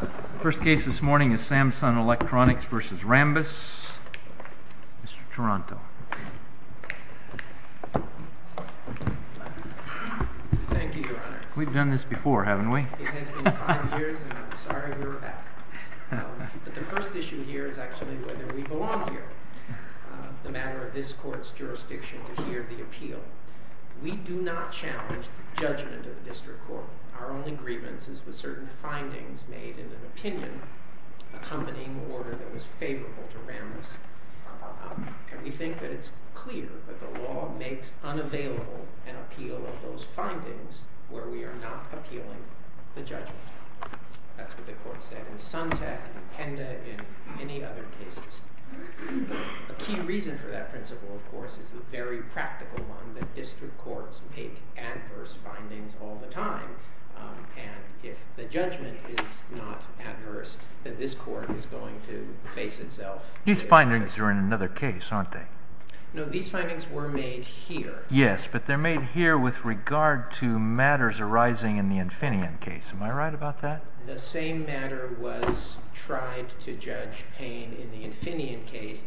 The first case this morning is Samson Electronics v. Rambus. Mr. Taranto. Thank you, Your Honor. We've done this before, haven't we? It has been five years, and I'm sorry we were back. But the first issue here is actually whether we belong here. It's a matter of this court's jurisdiction to hear the appeal. We do not challenge the judgment of the district court. Our only grievance is with certain findings made in an opinion accompanying order that was favorable to Rambus. And we think that it's clear that the law makes unavailable an appeal of those findings where we are not appealing the judgment. That's what the court said in Suntec and Penda and many other cases. A key reason for that principle, of course, is the very practical one that district courts make adverse findings all the time. And if the judgment is not adverse, then this court is going to face itself. These findings are in another case, aren't they? No, these findings were made here. Yes, but they're made here with regard to matters arising in the Infineon case. Am I right about that? The same matter was tried to Judge Payne in the Infineon case.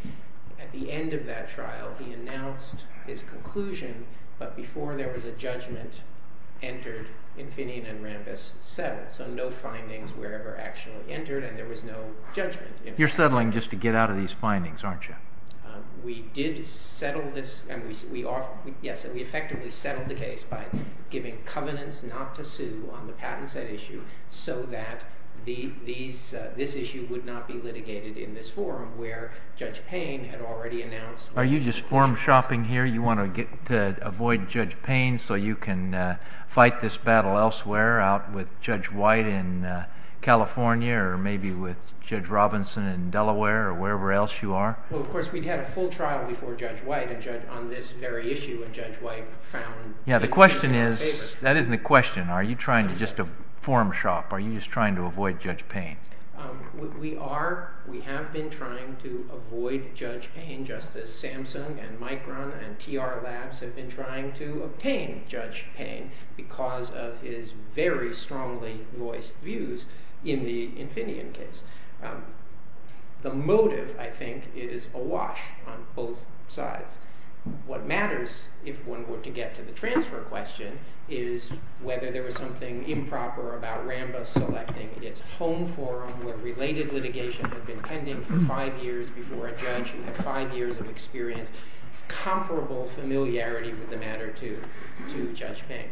At the end of that trial, he announced his conclusion, but before there was a judgment entered, Infineon and Rambus settled. So no findings were ever actually entered, and there was no judgment. You're settling just to get out of these findings, aren't you? We effectively settled the case by giving covenants not to sue on the patent set issue so that this issue would not be litigated in this forum where Judge Payne had already announced. Are you just forum shopping here? You want to avoid Judge Payne so you can fight this battle elsewhere out with Judge White in California or maybe with Judge Robinson in Delaware or wherever else you are? Well, of course, we had a full trial before Judge White on this very issue, and Judge White found... Yeah, the question is, that isn't the question. Are you trying to just forum shop? Are you just trying to avoid Judge Payne? We are. We have been trying to avoid Judge Payne, just as Samsung and Micron and TR Labs have been trying to obtain Judge Payne because of his very strongly voiced views in the Infineon case. The motive, I think, is awash on both sides. What matters, if one were to get to the transfer question, is whether there was something improper about RAMBA selecting its home forum where related litigation had been pending for five years before a judge who had five years of experience, comparable familiarity with the matter to Judge Payne.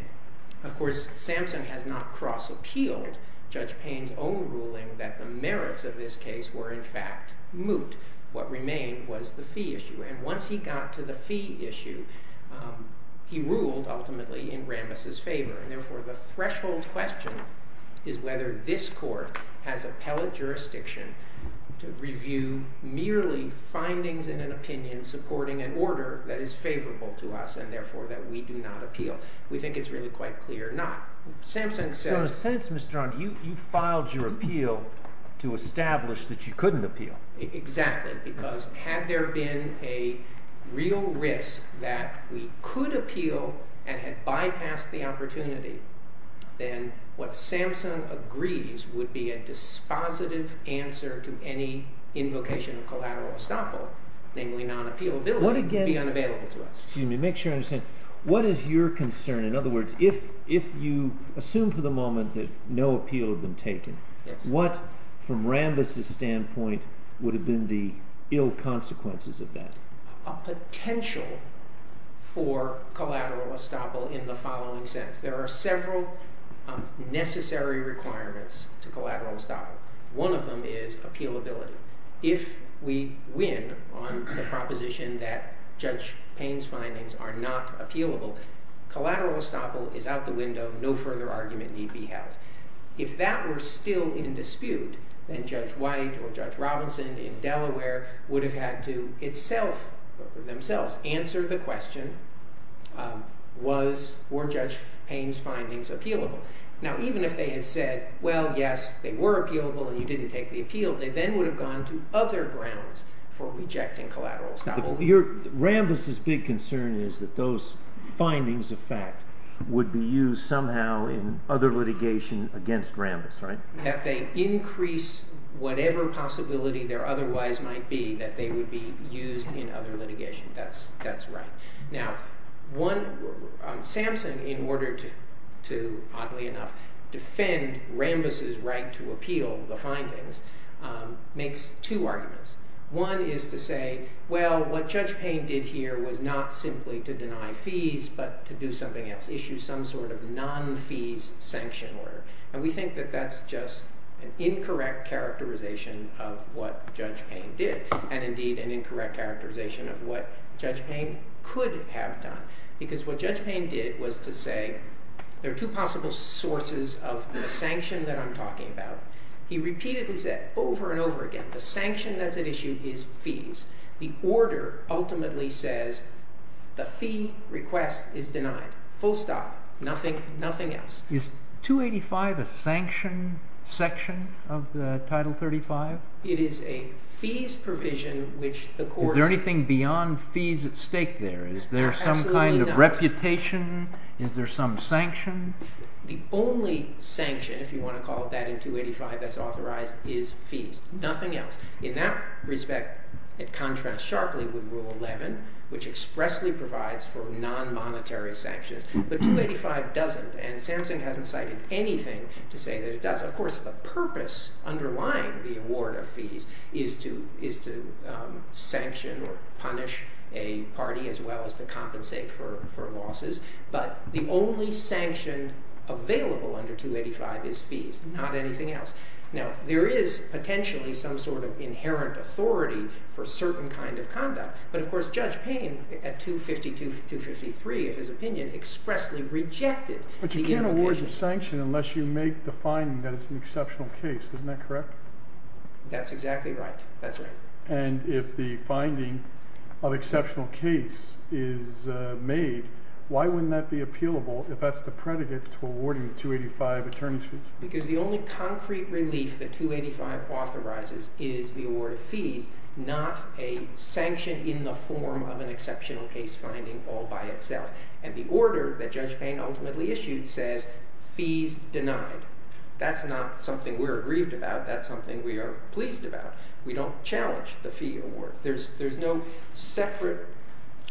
Of course, Samsung has not cross-appealed Judge Payne's own ruling that the merits of this case were, in fact, moot. What remained was the fee issue, and once he got to the fee issue, he ruled, ultimately, in Rambas's favor. Therefore, the threshold question is whether this court has appellate jurisdiction to review merely findings in an opinion supporting an order that is favorable to us and, therefore, that we do not appeal. We think it's really quite clear not. Samsung says… So in a sense, Mr. Arnn, you filed your appeal to establish that you couldn't appeal. Exactly, because had there been a real risk that we could appeal and had bypassed the opportunity, then what Samsung agrees would be a dispositive answer to any invocation of collateral estoppel, namely non-appealability, would be unavailable to us. Excuse me, make sure I understand. What is your concern? In other words, if you assume for the moment that no appeal had been taken, what, from Rambas's standpoint, would have been the ill consequences of that? A potential for collateral estoppel in the following sense. There are several necessary requirements to collateral estoppel. One of them is appealability. If we win on the proposition that Judge Payne's findings are not appealable, collateral estoppel is out the window. No further argument need be held. If that were still in dispute, then Judge White or Judge Robinson in Delaware would have had to itself, themselves, answer the question, were Judge Payne's findings appealable? Now, even if they had said, well, yes, they were appealable and you didn't take the appeal, they then would have gone to other grounds for rejecting collateral estoppel. Rambas's big concern is that those findings of fact would be used somehow in other litigation against Rambas, right? That they increase whatever possibility there otherwise might be that they would be used in other litigation. That's right. Now, Samson, in order to, oddly enough, defend Rambas's right to appeal the findings, makes two arguments. One is to say, well, what Judge Payne did here was not simply to deny fees but to do something else, issue some sort of non-fees sanction order. And we think that that's just an incorrect characterization of what Judge Payne did and, indeed, an incorrect characterization of what Judge Payne could have done. Because what Judge Payne did was to say, there are two possible sources of the sanction that I'm talking about. He repeatedly said over and over again, the sanction that's at issue is fees. The order ultimately says the fee request is denied. Full stop. Nothing else. Is 285 a sanction section of the Title 35? It is a fees provision which the court— Is there anything beyond fees at stake there? Absolutely not. Is there some kind of reputation? Is there some sanction? The only sanction, if you want to call it that, in 285 that's authorized is fees. Nothing else. In that respect, it contrasts sharply with Rule 11, which expressly provides for non-monetary sanctions. But 285 doesn't. And Samson hasn't cited anything to say that it does. Of course, the purpose underlying the award of fees is to sanction or punish a party as well as to compensate for losses. But the only sanction available under 285 is fees, not anything else. Now, there is potentially some sort of inherent authority for certain kind of conduct. But, of course, Judge Payne at 252-253 of his opinion expressly rejected the implication— But you can't award the sanction unless you make the finding that it's an exceptional case. Isn't that correct? That's exactly right. That's right. And if the finding of exceptional case is made, why wouldn't that be appealable if that's the predicate to awarding 285 attorney's fees? Because the only concrete relief that 285 authorizes is the award of fees, not a sanction in the form of an exceptional case finding all by itself. And the order that Judge Payne ultimately issued says fees denied. That's not something we're aggrieved about. That's something we are pleased about. We don't challenge the fee award. There's no separate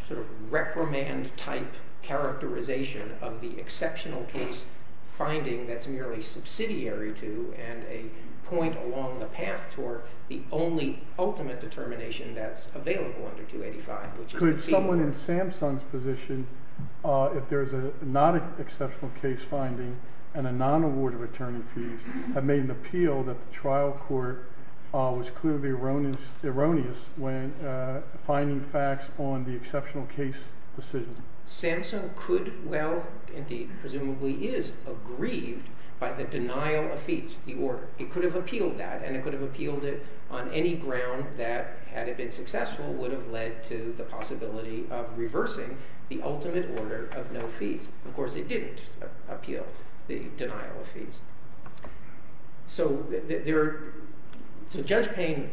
sort of reprimand type characterization of the exceptional case finding that's merely subsidiary to and a point along the path toward the only ultimate determination that's available under 285, which is the fee award. But in Samson's position, if there's a non-exceptional case finding and a non-award of attorney's fees, have made an appeal that the trial court was clearly erroneous when finding facts on the exceptional case decision. Samson could—well, indeed, presumably is—aggrieved by the denial of fees, the order. The ultimate order of no fees. Of course, it didn't appeal the denial of fees. So Judge Payne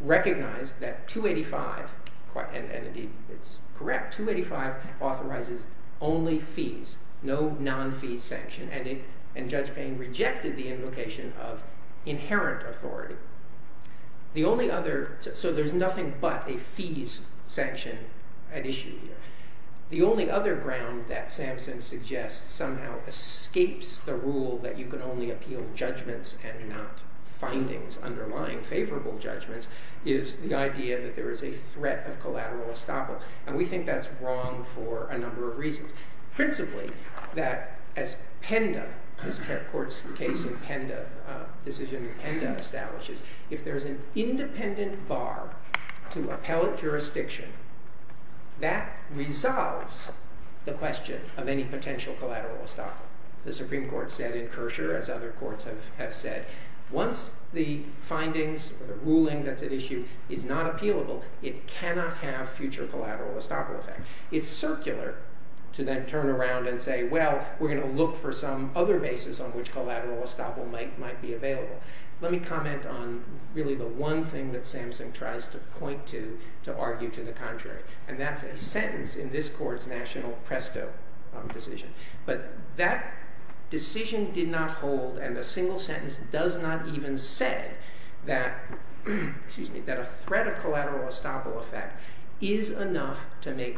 recognized that 285—and indeed, it's correct—285 authorizes only fees, no non-fees sanction. And Judge Payne rejected the invocation of inherent authority. The only other—so there's nothing but a fees sanction at issue here. The only other ground that Samson suggests somehow escapes the rule that you can only appeal judgments and not findings underlying favorable judgments is the idea that there is a threat of collateral estoppel. And we think that's wrong for a number of reasons. Principally, that as PENDA—this court's case in PENDA—decision in PENDA establishes, if there's an independent bar to appellate jurisdiction, that resolves the question of any potential collateral estoppel. The Supreme Court said in Kershaw, as other courts have said, once the findings or the ruling that's at issue is not appealable, it cannot have future collateral estoppel effect. It's circular to then turn around and say, well, we're going to look for some other basis on which collateral estoppel might be available. Let me comment on really the one thing that Samson tries to point to to argue to the contrary, and that's a sentence in this court's national presto decision. But that decision did not hold, and the single sentence does not even say that—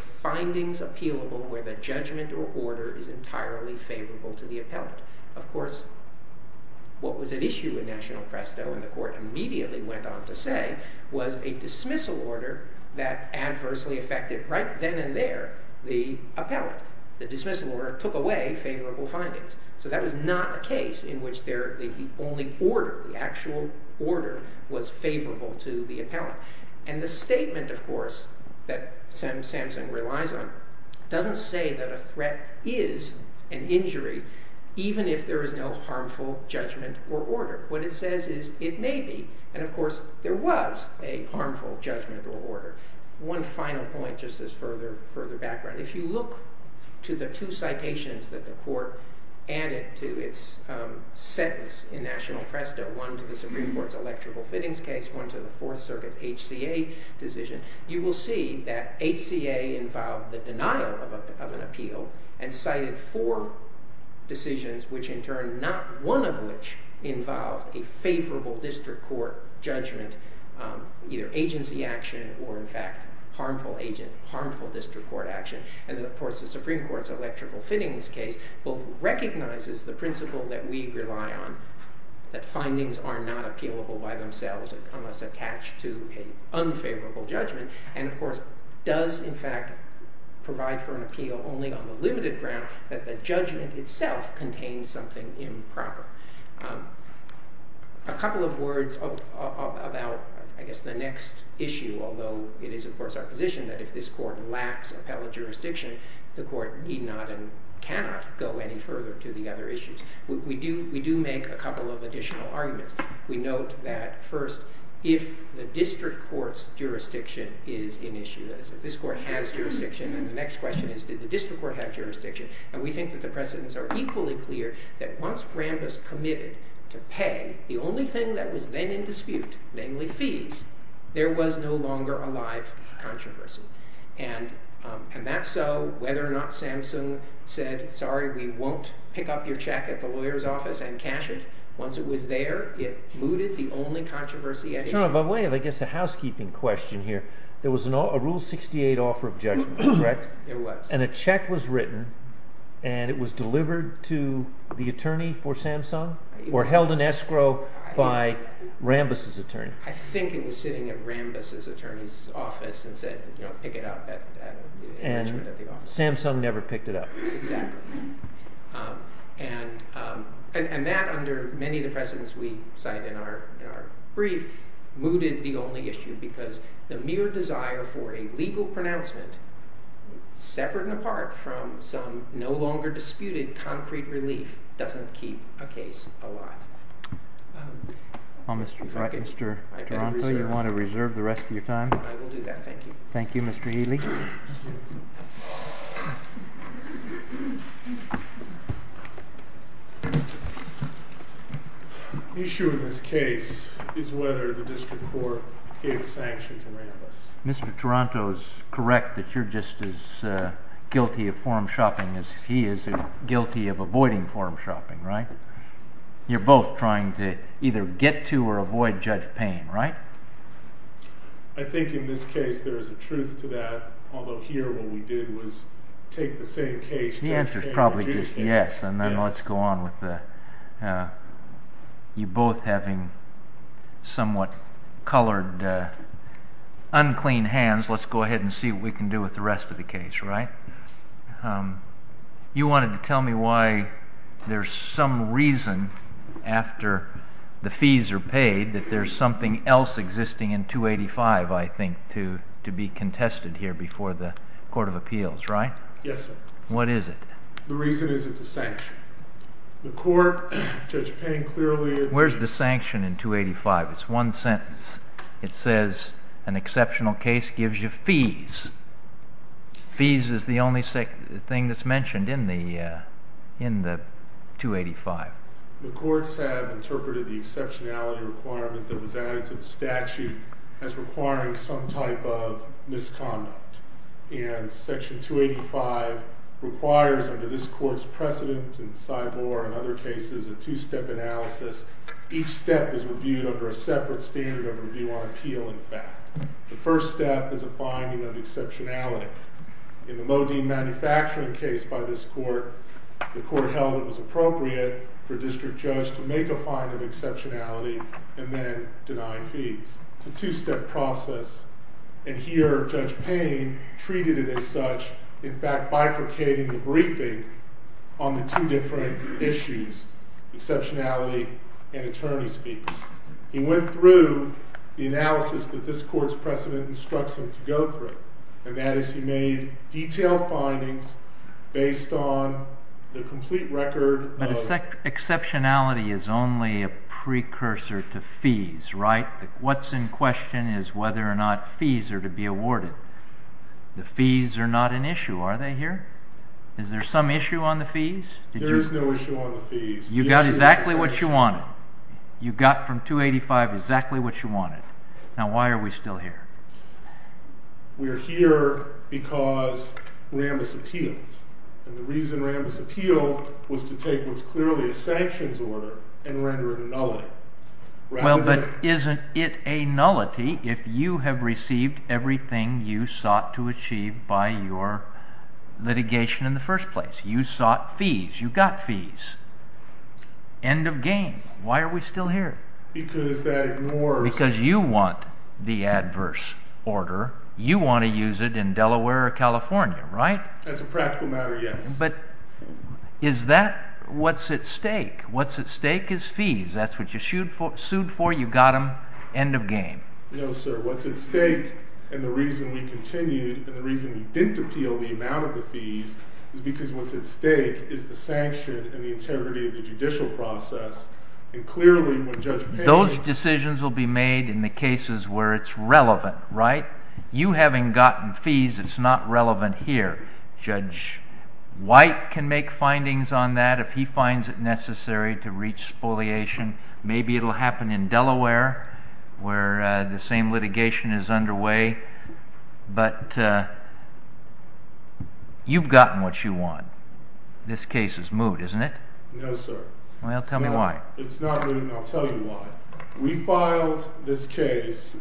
findings appealable where the judgment or order is entirely favorable to the appellate. Of course, what was at issue in national presto, and the court immediately went on to say, was a dismissal order that adversely affected, right then and there, the appellate. The dismissal order took away favorable findings. So that was not a case in which the only order, the actual order, was favorable to the appellate. And the statement, of course, that Samson relies on doesn't say that a threat is an injury even if there is no harmful judgment or order. What it says is it may be, and of course, there was a harmful judgment or order. One final point, just as further background. If you look to the two citations that the court added to its sentence in national presto, one to the Supreme Court's electrical fittings case, one to the Fourth Circuit's HCA decision, you will see that HCA involved the denial of an appeal and cited four decisions, which in turn, not one of which involved a favorable district court judgment, either agency action or, in fact, harmful district court action. And of course, the Supreme Court's electrical fittings case both recognizes the principle that we rely on, that findings are not appealable by themselves unless attached to an unfavorable judgment and, of course, does, in fact, provide for an appeal only on the limited ground that the judgment itself contains something improper. A couple of words about, I guess, the next issue, although it is, of course, our position that if this court lacks appellate jurisdiction, the court need not and cannot go any further to the other issues. We do make a couple of additional arguments. We note that, first, if the district court's jurisdiction is an issue, that is, if this court has jurisdiction, then the next question is, did the district court have jurisdiction? And we think that the precedents are equally clear that once Rambis committed to pay, the only thing that was then in dispute, namely fees, there was no longer a live controversy. And that's so whether or not Samsung said, sorry, we won't pick up your check at the lawyer's office and cash it. Once it was there, it mooted the only controversy at issue. By the way, I guess a housekeeping question here. There was a Rule 68 offer of judgment, correct? There was. And a check was written, and it was delivered to the attorney for Samsung or held in escrow by Rambis' attorney? I think it was sitting at Rambis' attorney's office and said, you know, pick it up at the office. And Samsung never picked it up. Exactly. And that, under many of the precedents we cite in our brief, mooted the only issue because the mere desire for a legal pronouncement, separate and apart from some no longer disputed concrete relief, doesn't keep a case alive. All right, Mr. Taranto, you want to reserve the rest of your time? I will do that. Thank you. Thank you, Mr. Healy. The issue in this case is whether the district court gave sanction to Rambis. Mr. Taranto is correct that you're just as guilty of form-shopping as he is guilty of avoiding form-shopping, right? You're both trying to either get to or avoid Judge Payne, right? I think in this case there is a truth to that, although here what we did was take the same case, Judge Payne or Chief Payne. The answer is probably just yes, and then let's go on with you both having somewhat colored, unclean hands. Let's go ahead and see what we can do with the rest of the case, right? You wanted to tell me why there's some reason after the fees are paid that there's something else existing in 285, I think, to be contested here before the Court of Appeals, right? Yes, sir. What is it? The reason is it's a sanction. The court, Judge Payne clearly… Where's the sanction in 285? It's one sentence. It says an exceptional case gives you fees. Fees is the only thing that's mentioned in the 285. The courts have interpreted the exceptionality requirement that was added to the statute as requiring some type of misconduct, and Section 285 requires, under this court's precedent in Sybor and other cases, a two-step analysis. Each step is reviewed under a separate standard of review on appeal and fact. The first step is a finding of exceptionality. In the Modine manufacturing case by this court, the court held it was appropriate for a district judge to make a finding of exceptionality and then deny fees. It's a two-step process, and here, Judge Payne treated it as such, in fact bifurcating the briefing on the two different issues, exceptionality and attorney's fees. He went through the analysis that this court's precedent instructs him to go through, and that is he made detailed findings based on the complete record of… But exceptionality is only a precursor to fees, right? What's in question is whether or not fees are to be awarded. The fees are not an issue, are they here? Is there some issue on the fees? You got exactly what you wanted. You got from 285 exactly what you wanted. Now, why are we still here? We are here because Rambis appealed, and the reason Rambis appealed was to take what's clearly a sanctions order and render it a nullity. Well, but isn't it a nullity if you have received everything you sought to achieve by your litigation in the first place? You sought fees. You got fees. End of game. Why are we still here? Because that ignores… Because you want the adverse order. You want to use it in Delaware or California, right? As a practical matter, yes. But is that what's at stake? What's at stake is fees. That's what you sued for. You got them. End of game. No, sir. What's at stake, and the reason we continued, and the reason we didn't appeal the amount of the fees, is because what's at stake is the sanction and the integrity of the judicial process. Those decisions will be made in the cases where it's relevant, right? You having gotten fees, it's not relevant here. Judge White can make findings on that if he finds it necessary to reach spoliation. Maybe it will happen in Delaware where the same litigation is underway, but you've gotten what you want. This case is moved, isn't it? No, sir. Well, tell me why. It's not moving. I'll tell you why. We filed this case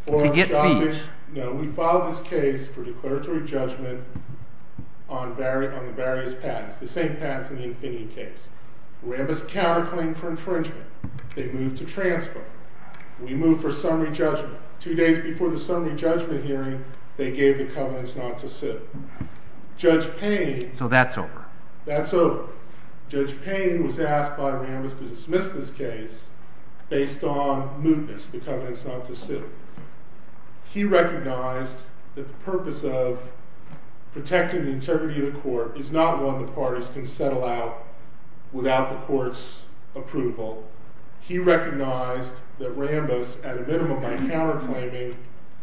for… To get fees. No, we filed this case for declaratory judgment on the various patents, the same patents in the Infinity case. Rambis counterclaim for infringement. They moved to transfer. We moved for summary judgment. Two days before the summary judgment hearing, they gave the covenants not to sue. Judge Payne… So that's over. That's over. Judge Payne was asked by Rambis to dismiss this case based on mootness, the covenants not to sue. He recognized that the purpose of protecting the integrity of the court is not one the parties can settle out without the court's approval. He recognized that Rambis, at a minimum by counterclaiming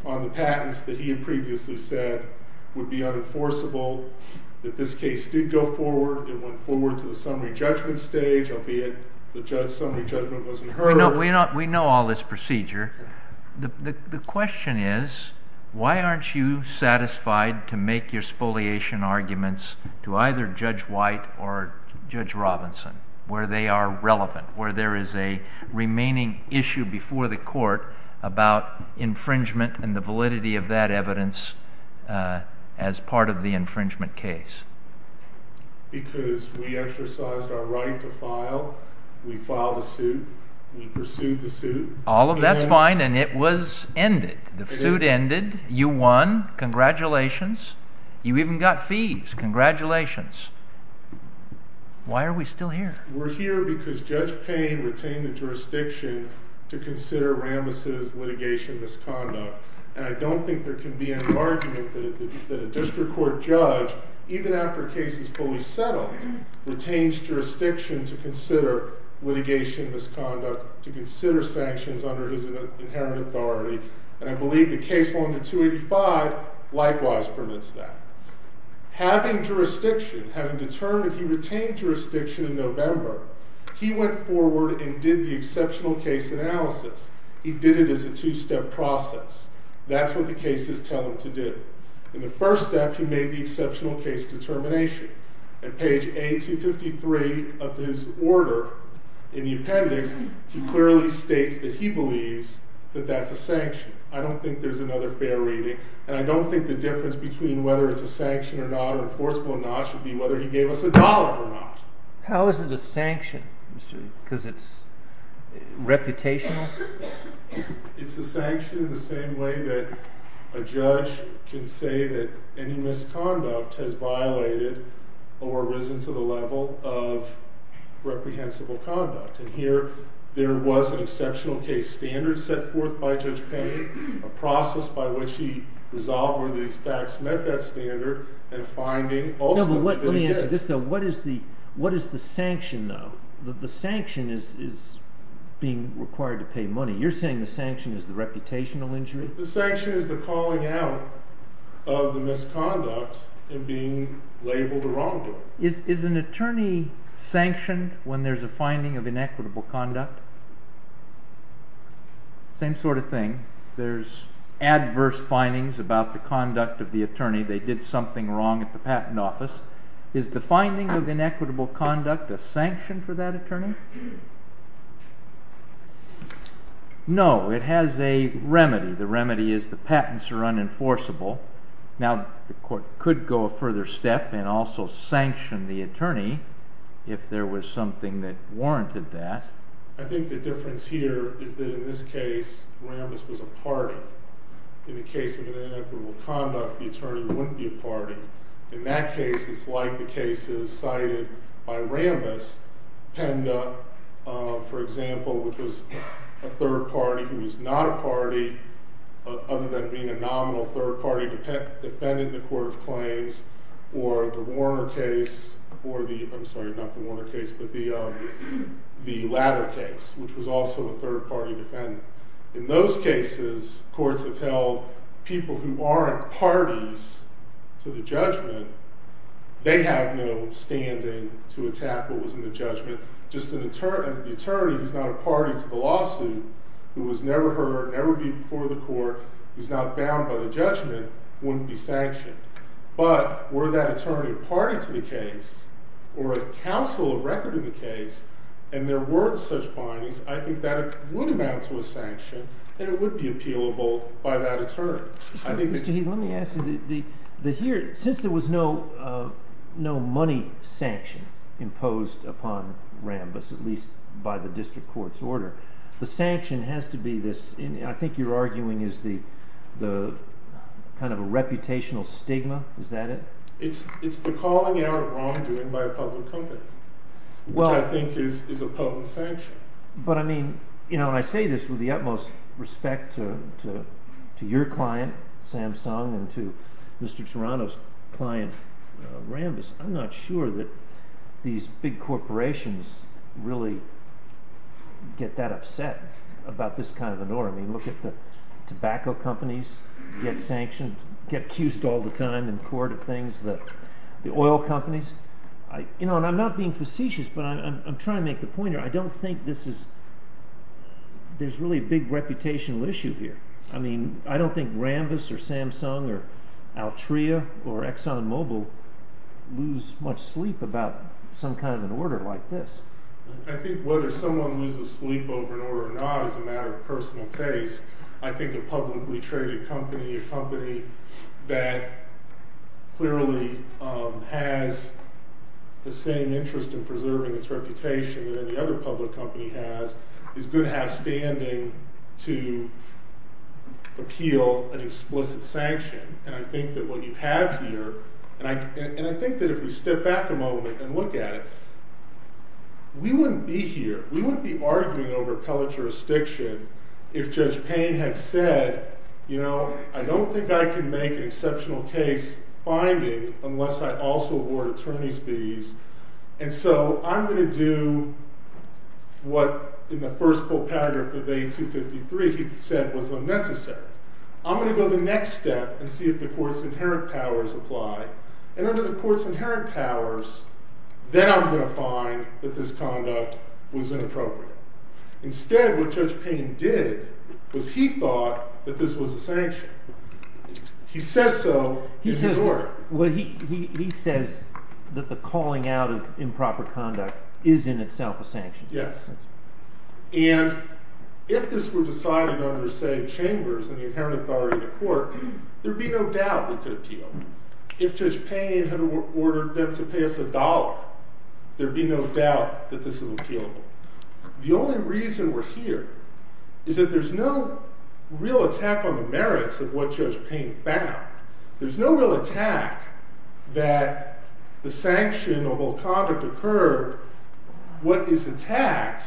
on the patents that he had previously said would be unenforceable, that this case did go forward. It went forward to the summary judgment stage, albeit the summary judgment wasn't heard. We know all this procedure. The question is, why aren't you satisfied to make your spoliation arguments to either Judge White or Judge Robinson, where they are relevant, where there is a remaining issue before the court about infringement and the validity of that evidence as part of the infringement case? Because we exercised our right to file. We filed a suit. We pursued the suit. All of that's fine, and it was ended. The suit ended. You won. Congratulations. You even got fees. Congratulations. Why are we still here? We're here because Judge Payne retained the jurisdiction to consider Rambis's litigation misconduct, and I don't think there can be an argument that a district court judge, even after a case is fully settled, retains jurisdiction to consider litigation misconduct, to consider sanctions under his inherent authority, and I believe the case under 285 likewise permits that. Having jurisdiction, having determined he retained jurisdiction in November, he went forward and did the exceptional case analysis. He did it as a two-step process. That's what the cases tell him to do. In the first step, he made the exceptional case determination. At page A253 of his order in the appendix, he clearly states that he believes that that's a sanction. I don't think there's another fair reading, and I don't think the difference between whether it's a sanction or not or enforceable or not should be whether he gave us a dollar or not. How is it a sanction? Because it's reputational? It's a sanction in the same way that a judge can say that any misconduct has violated or risen to the level of reprehensible conduct, and here there was an exceptional case standard set forth by Judge Payne, a process by which he resolved whether these facts met that standard, and finding ultimately that it did. What is the sanction, though? The sanction is being required to pay money. You're saying the sanction is the reputational injury? The sanction is the calling out of the misconduct and being labeled a wrongdoing. Is an attorney sanctioned when there's a finding of inequitable conduct? Same sort of thing. There's adverse findings about the conduct of the attorney. They did something wrong at the patent office. Is the finding of inequitable conduct a sanction for that attorney? No, it has a remedy. The remedy is the patents are unenforceable. Now, the court could go a further step and also sanction the attorney if there was something that warranted that. I think the difference here is that in this case, Rambis was a party. In the case of inequitable conduct, the attorney wouldn't be a party. In that case, it's like the cases cited by Rambis. Penda, for example, which was a third party who was not a party, other than being a nominal third party defendant in the court of claims, or the Warner case, or the, I'm sorry, not the Warner case, but the latter case, which was also a third party defendant. In those cases, courts have held people who aren't parties to the judgment, they have no standing to attack what was in the judgment. Just as the attorney who's not a party to the lawsuit, who was never heard, never before the court, who's not bound by the judgment, wouldn't be sanctioned. But were that attorney a party to the case, or a counsel of record to the case, and there were such parties, I think that would amount to a sanction, and it would be appealable by that attorney. Mr. Heath, let me ask you, since there was no money sanction imposed upon Rambis, at least by the district court's order, the sanction has to be this, I think you're arguing is the kind of a reputational stigma, is that it? It's the calling out of wrongdoing by a public company, which I think is a potent sanction. But I mean, when I say this with the utmost respect to your client, Samsung, and to Mr. Toronto's client, Rambis, I'm not sure that these big corporations really get that upset about this kind of a norm. I mean, look at the tobacco companies get sanctioned, get accused all the time in court of things, the oil companies, you know, and I'm not being facetious, but I'm trying to make the point here, I don't think this is, there's really a big reputational issue here. I mean, I don't think Rambis, or Samsung, or Altria, or ExxonMobil lose much sleep about some kind of an order like this. I think whether someone loses sleep over an order or not is a matter of personal taste. I think a publicly traded company, a company that clearly has the same interest in preserving its reputation that any other public company has, is good half-standing to appeal an explicit sanction. And I think that what you have here, and I think that if we step back a moment and look at it, we wouldn't be here, we wouldn't be arguing over appellate jurisdiction if Judge Payne had said, you know, I don't think I can make an exceptional case finding unless I also award attorney's fees, and so I'm going to do what in the first full paragraph of A253 he said was unnecessary. I'm going to go the next step and see if the court's inherent powers apply, and under the court's inherent powers, then I'm going to find that this conduct was inappropriate. Instead, what Judge Payne did was he thought that this was a sanction. He says so in his order. He says that the calling out of improper conduct is in itself a sanction. Yes. And if this were decided under, say, chambers and the inherent authority of the court, there would be no doubt we could appeal. If Judge Payne had ordered them to pay us a dollar, there would be no doubt that this is appealable. The only reason we're here is that there's no real attack on the merits of what Judge Payne found. There's no real attack that the sanction of all conduct occurred. What is attacked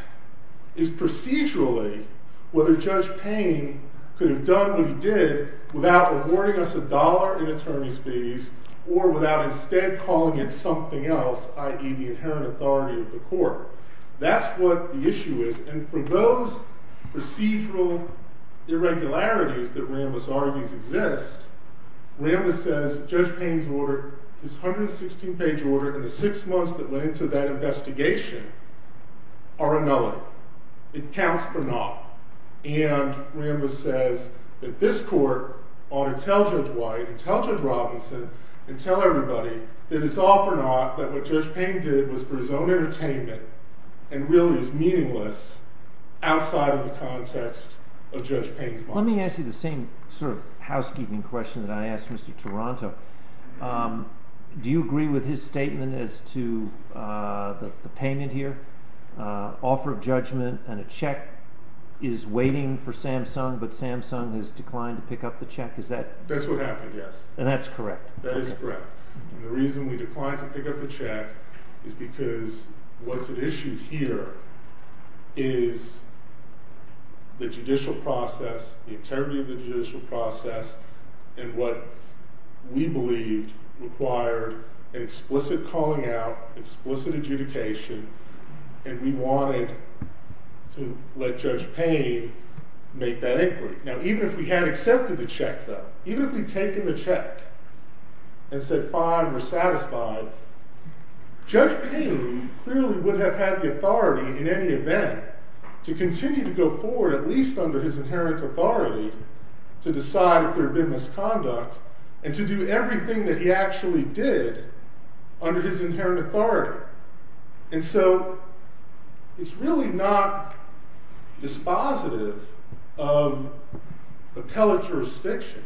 is procedurally whether Judge Payne could have done what he did without awarding us a dollar in attorney's fees or without instead calling it something else, i.e. the inherent authority of the court. That's what the issue is, and for those procedural irregularities that Rambis argues exist, Rambis says Judge Payne's 116-page order and the six months that went into that investigation are annulled. It counts for naught. And Rambis says that this court ought to tell Judge White and tell Judge Robinson and tell everybody that it's all for naught, that what Judge Payne did was for his own entertainment and really is meaningless outside of the context of Judge Payne's mind. Let me ask you the same sort of housekeeping question that I asked Mr. Toronto. Do you agree with his statement as to the payment here, offer of judgment, and a check is waiting for Samsung but Samsung has declined to pick up the check? That's what happened, yes. And that's correct? That is correct. And the reason we declined to pick up the check is because what's at issue here is the judicial process, the integrity of the judicial process, and what we believed required an explicit calling out, explicit adjudication, and we wanted to let Judge Payne make that inquiry. Now, even if we had accepted the check, though, even if we'd taken the check and said, fine, we're satisfied, Judge Payne clearly would have had the authority in any event to continue to go forward at least under his inherent authority to decide if there had been misconduct and to do everything that he actually did under his inherent authority. And so it's really not dispositive of appellate jurisdiction,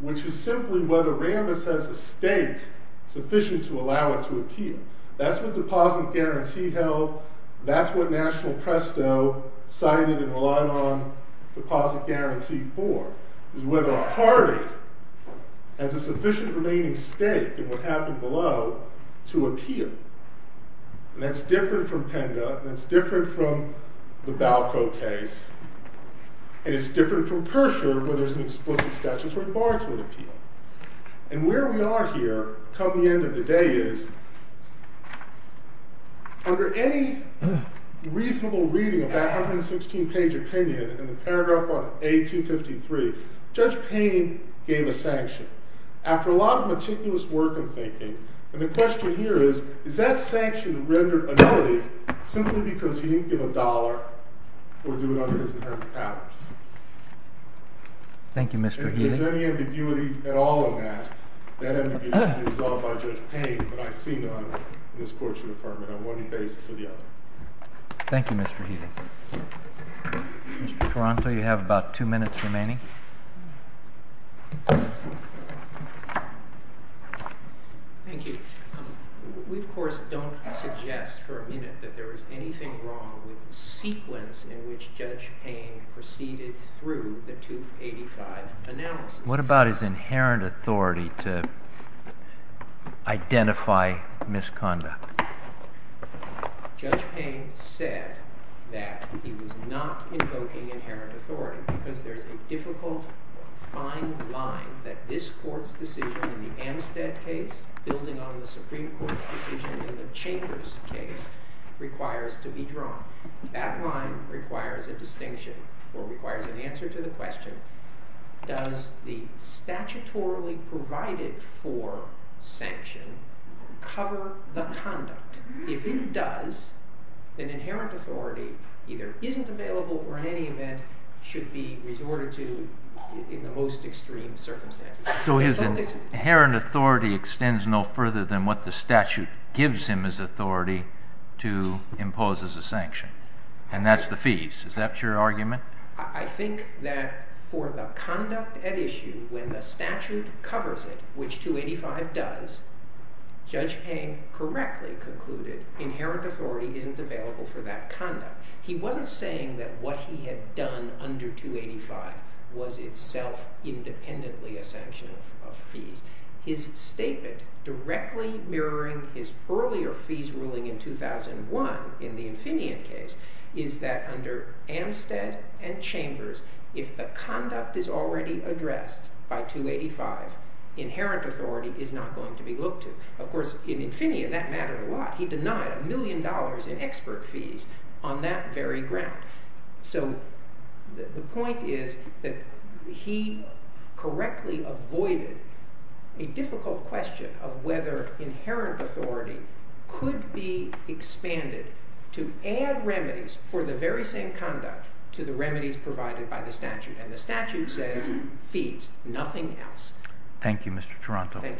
which is simply whether Rambis has a stake sufficient to allow it to appear. That's what Deposit Guarantee held. That's what National Presto cited and relied on Deposit Guarantee for, is whether a party has a sufficient remaining stake in what happened below to appeal. And that's different from PENDA, and that's different from the Balco case, and it's different from Kersher where there's an explicit statutory bar to appeal. And where we are here, come the end of the day, is under any reasonable reading of that 116-page opinion in the paragraph on A253, Judge Payne gave a sanction. After a lot of meticulous work and thinking, and the question here is, is that sanction rendered annulled simply because he didn't give a dollar for doing it under his inherent powers? Thank you, Mr. Healy. And if there's any ambiguity at all in that, that ambiguity should be resolved by Judge Payne, but I see none in this court's report on one basis or the other. Thank you, Mr. Healy. Mr. Taranto, you have about two minutes remaining. Thank you. We, of course, don't suggest for a minute that there was anything wrong with the sequence in which Judge Payne proceeded through the 285 analysis. What about his inherent authority to identify misconduct? Judge Payne said that he was not invoking inherent authority because there's a difficult fine line that this court's decision in the Amstead case, building on the Supreme Court's decision in the Chambers case, requires to be drawn. That line requires a distinction or requires an answer to the question, does the statutorily provided for sanction cover the conduct? If it does, then inherent authority either isn't available or in any event should be resorted to in the most extreme circumstances. So his inherent authority extends no further than what the statute gives him as authority to impose as a sanction. And that's the fees. Is that your argument? I think that for the conduct at issue, when the statute covers it, which 285 does, Judge Payne correctly concluded inherent authority isn't available for that conduct. He wasn't saying that what he had done under 285 was itself independently a sanction of fees. His statement directly mirroring his earlier fees ruling in 2001 in the Infineon case is that under Amstead and Chambers, if the conduct is already addressed by 285, inherent authority is not going to be looked to. Of course, in Infineon, that mattered a lot. He denied a million dollars in expert fees on that very ground. So the point is that he correctly avoided a difficult question of whether inherent authority could be expanded to add remedies for the very same conduct to the remedies provided by the statute. And the statute says fees, nothing else. Thank you, Mr. Taranto.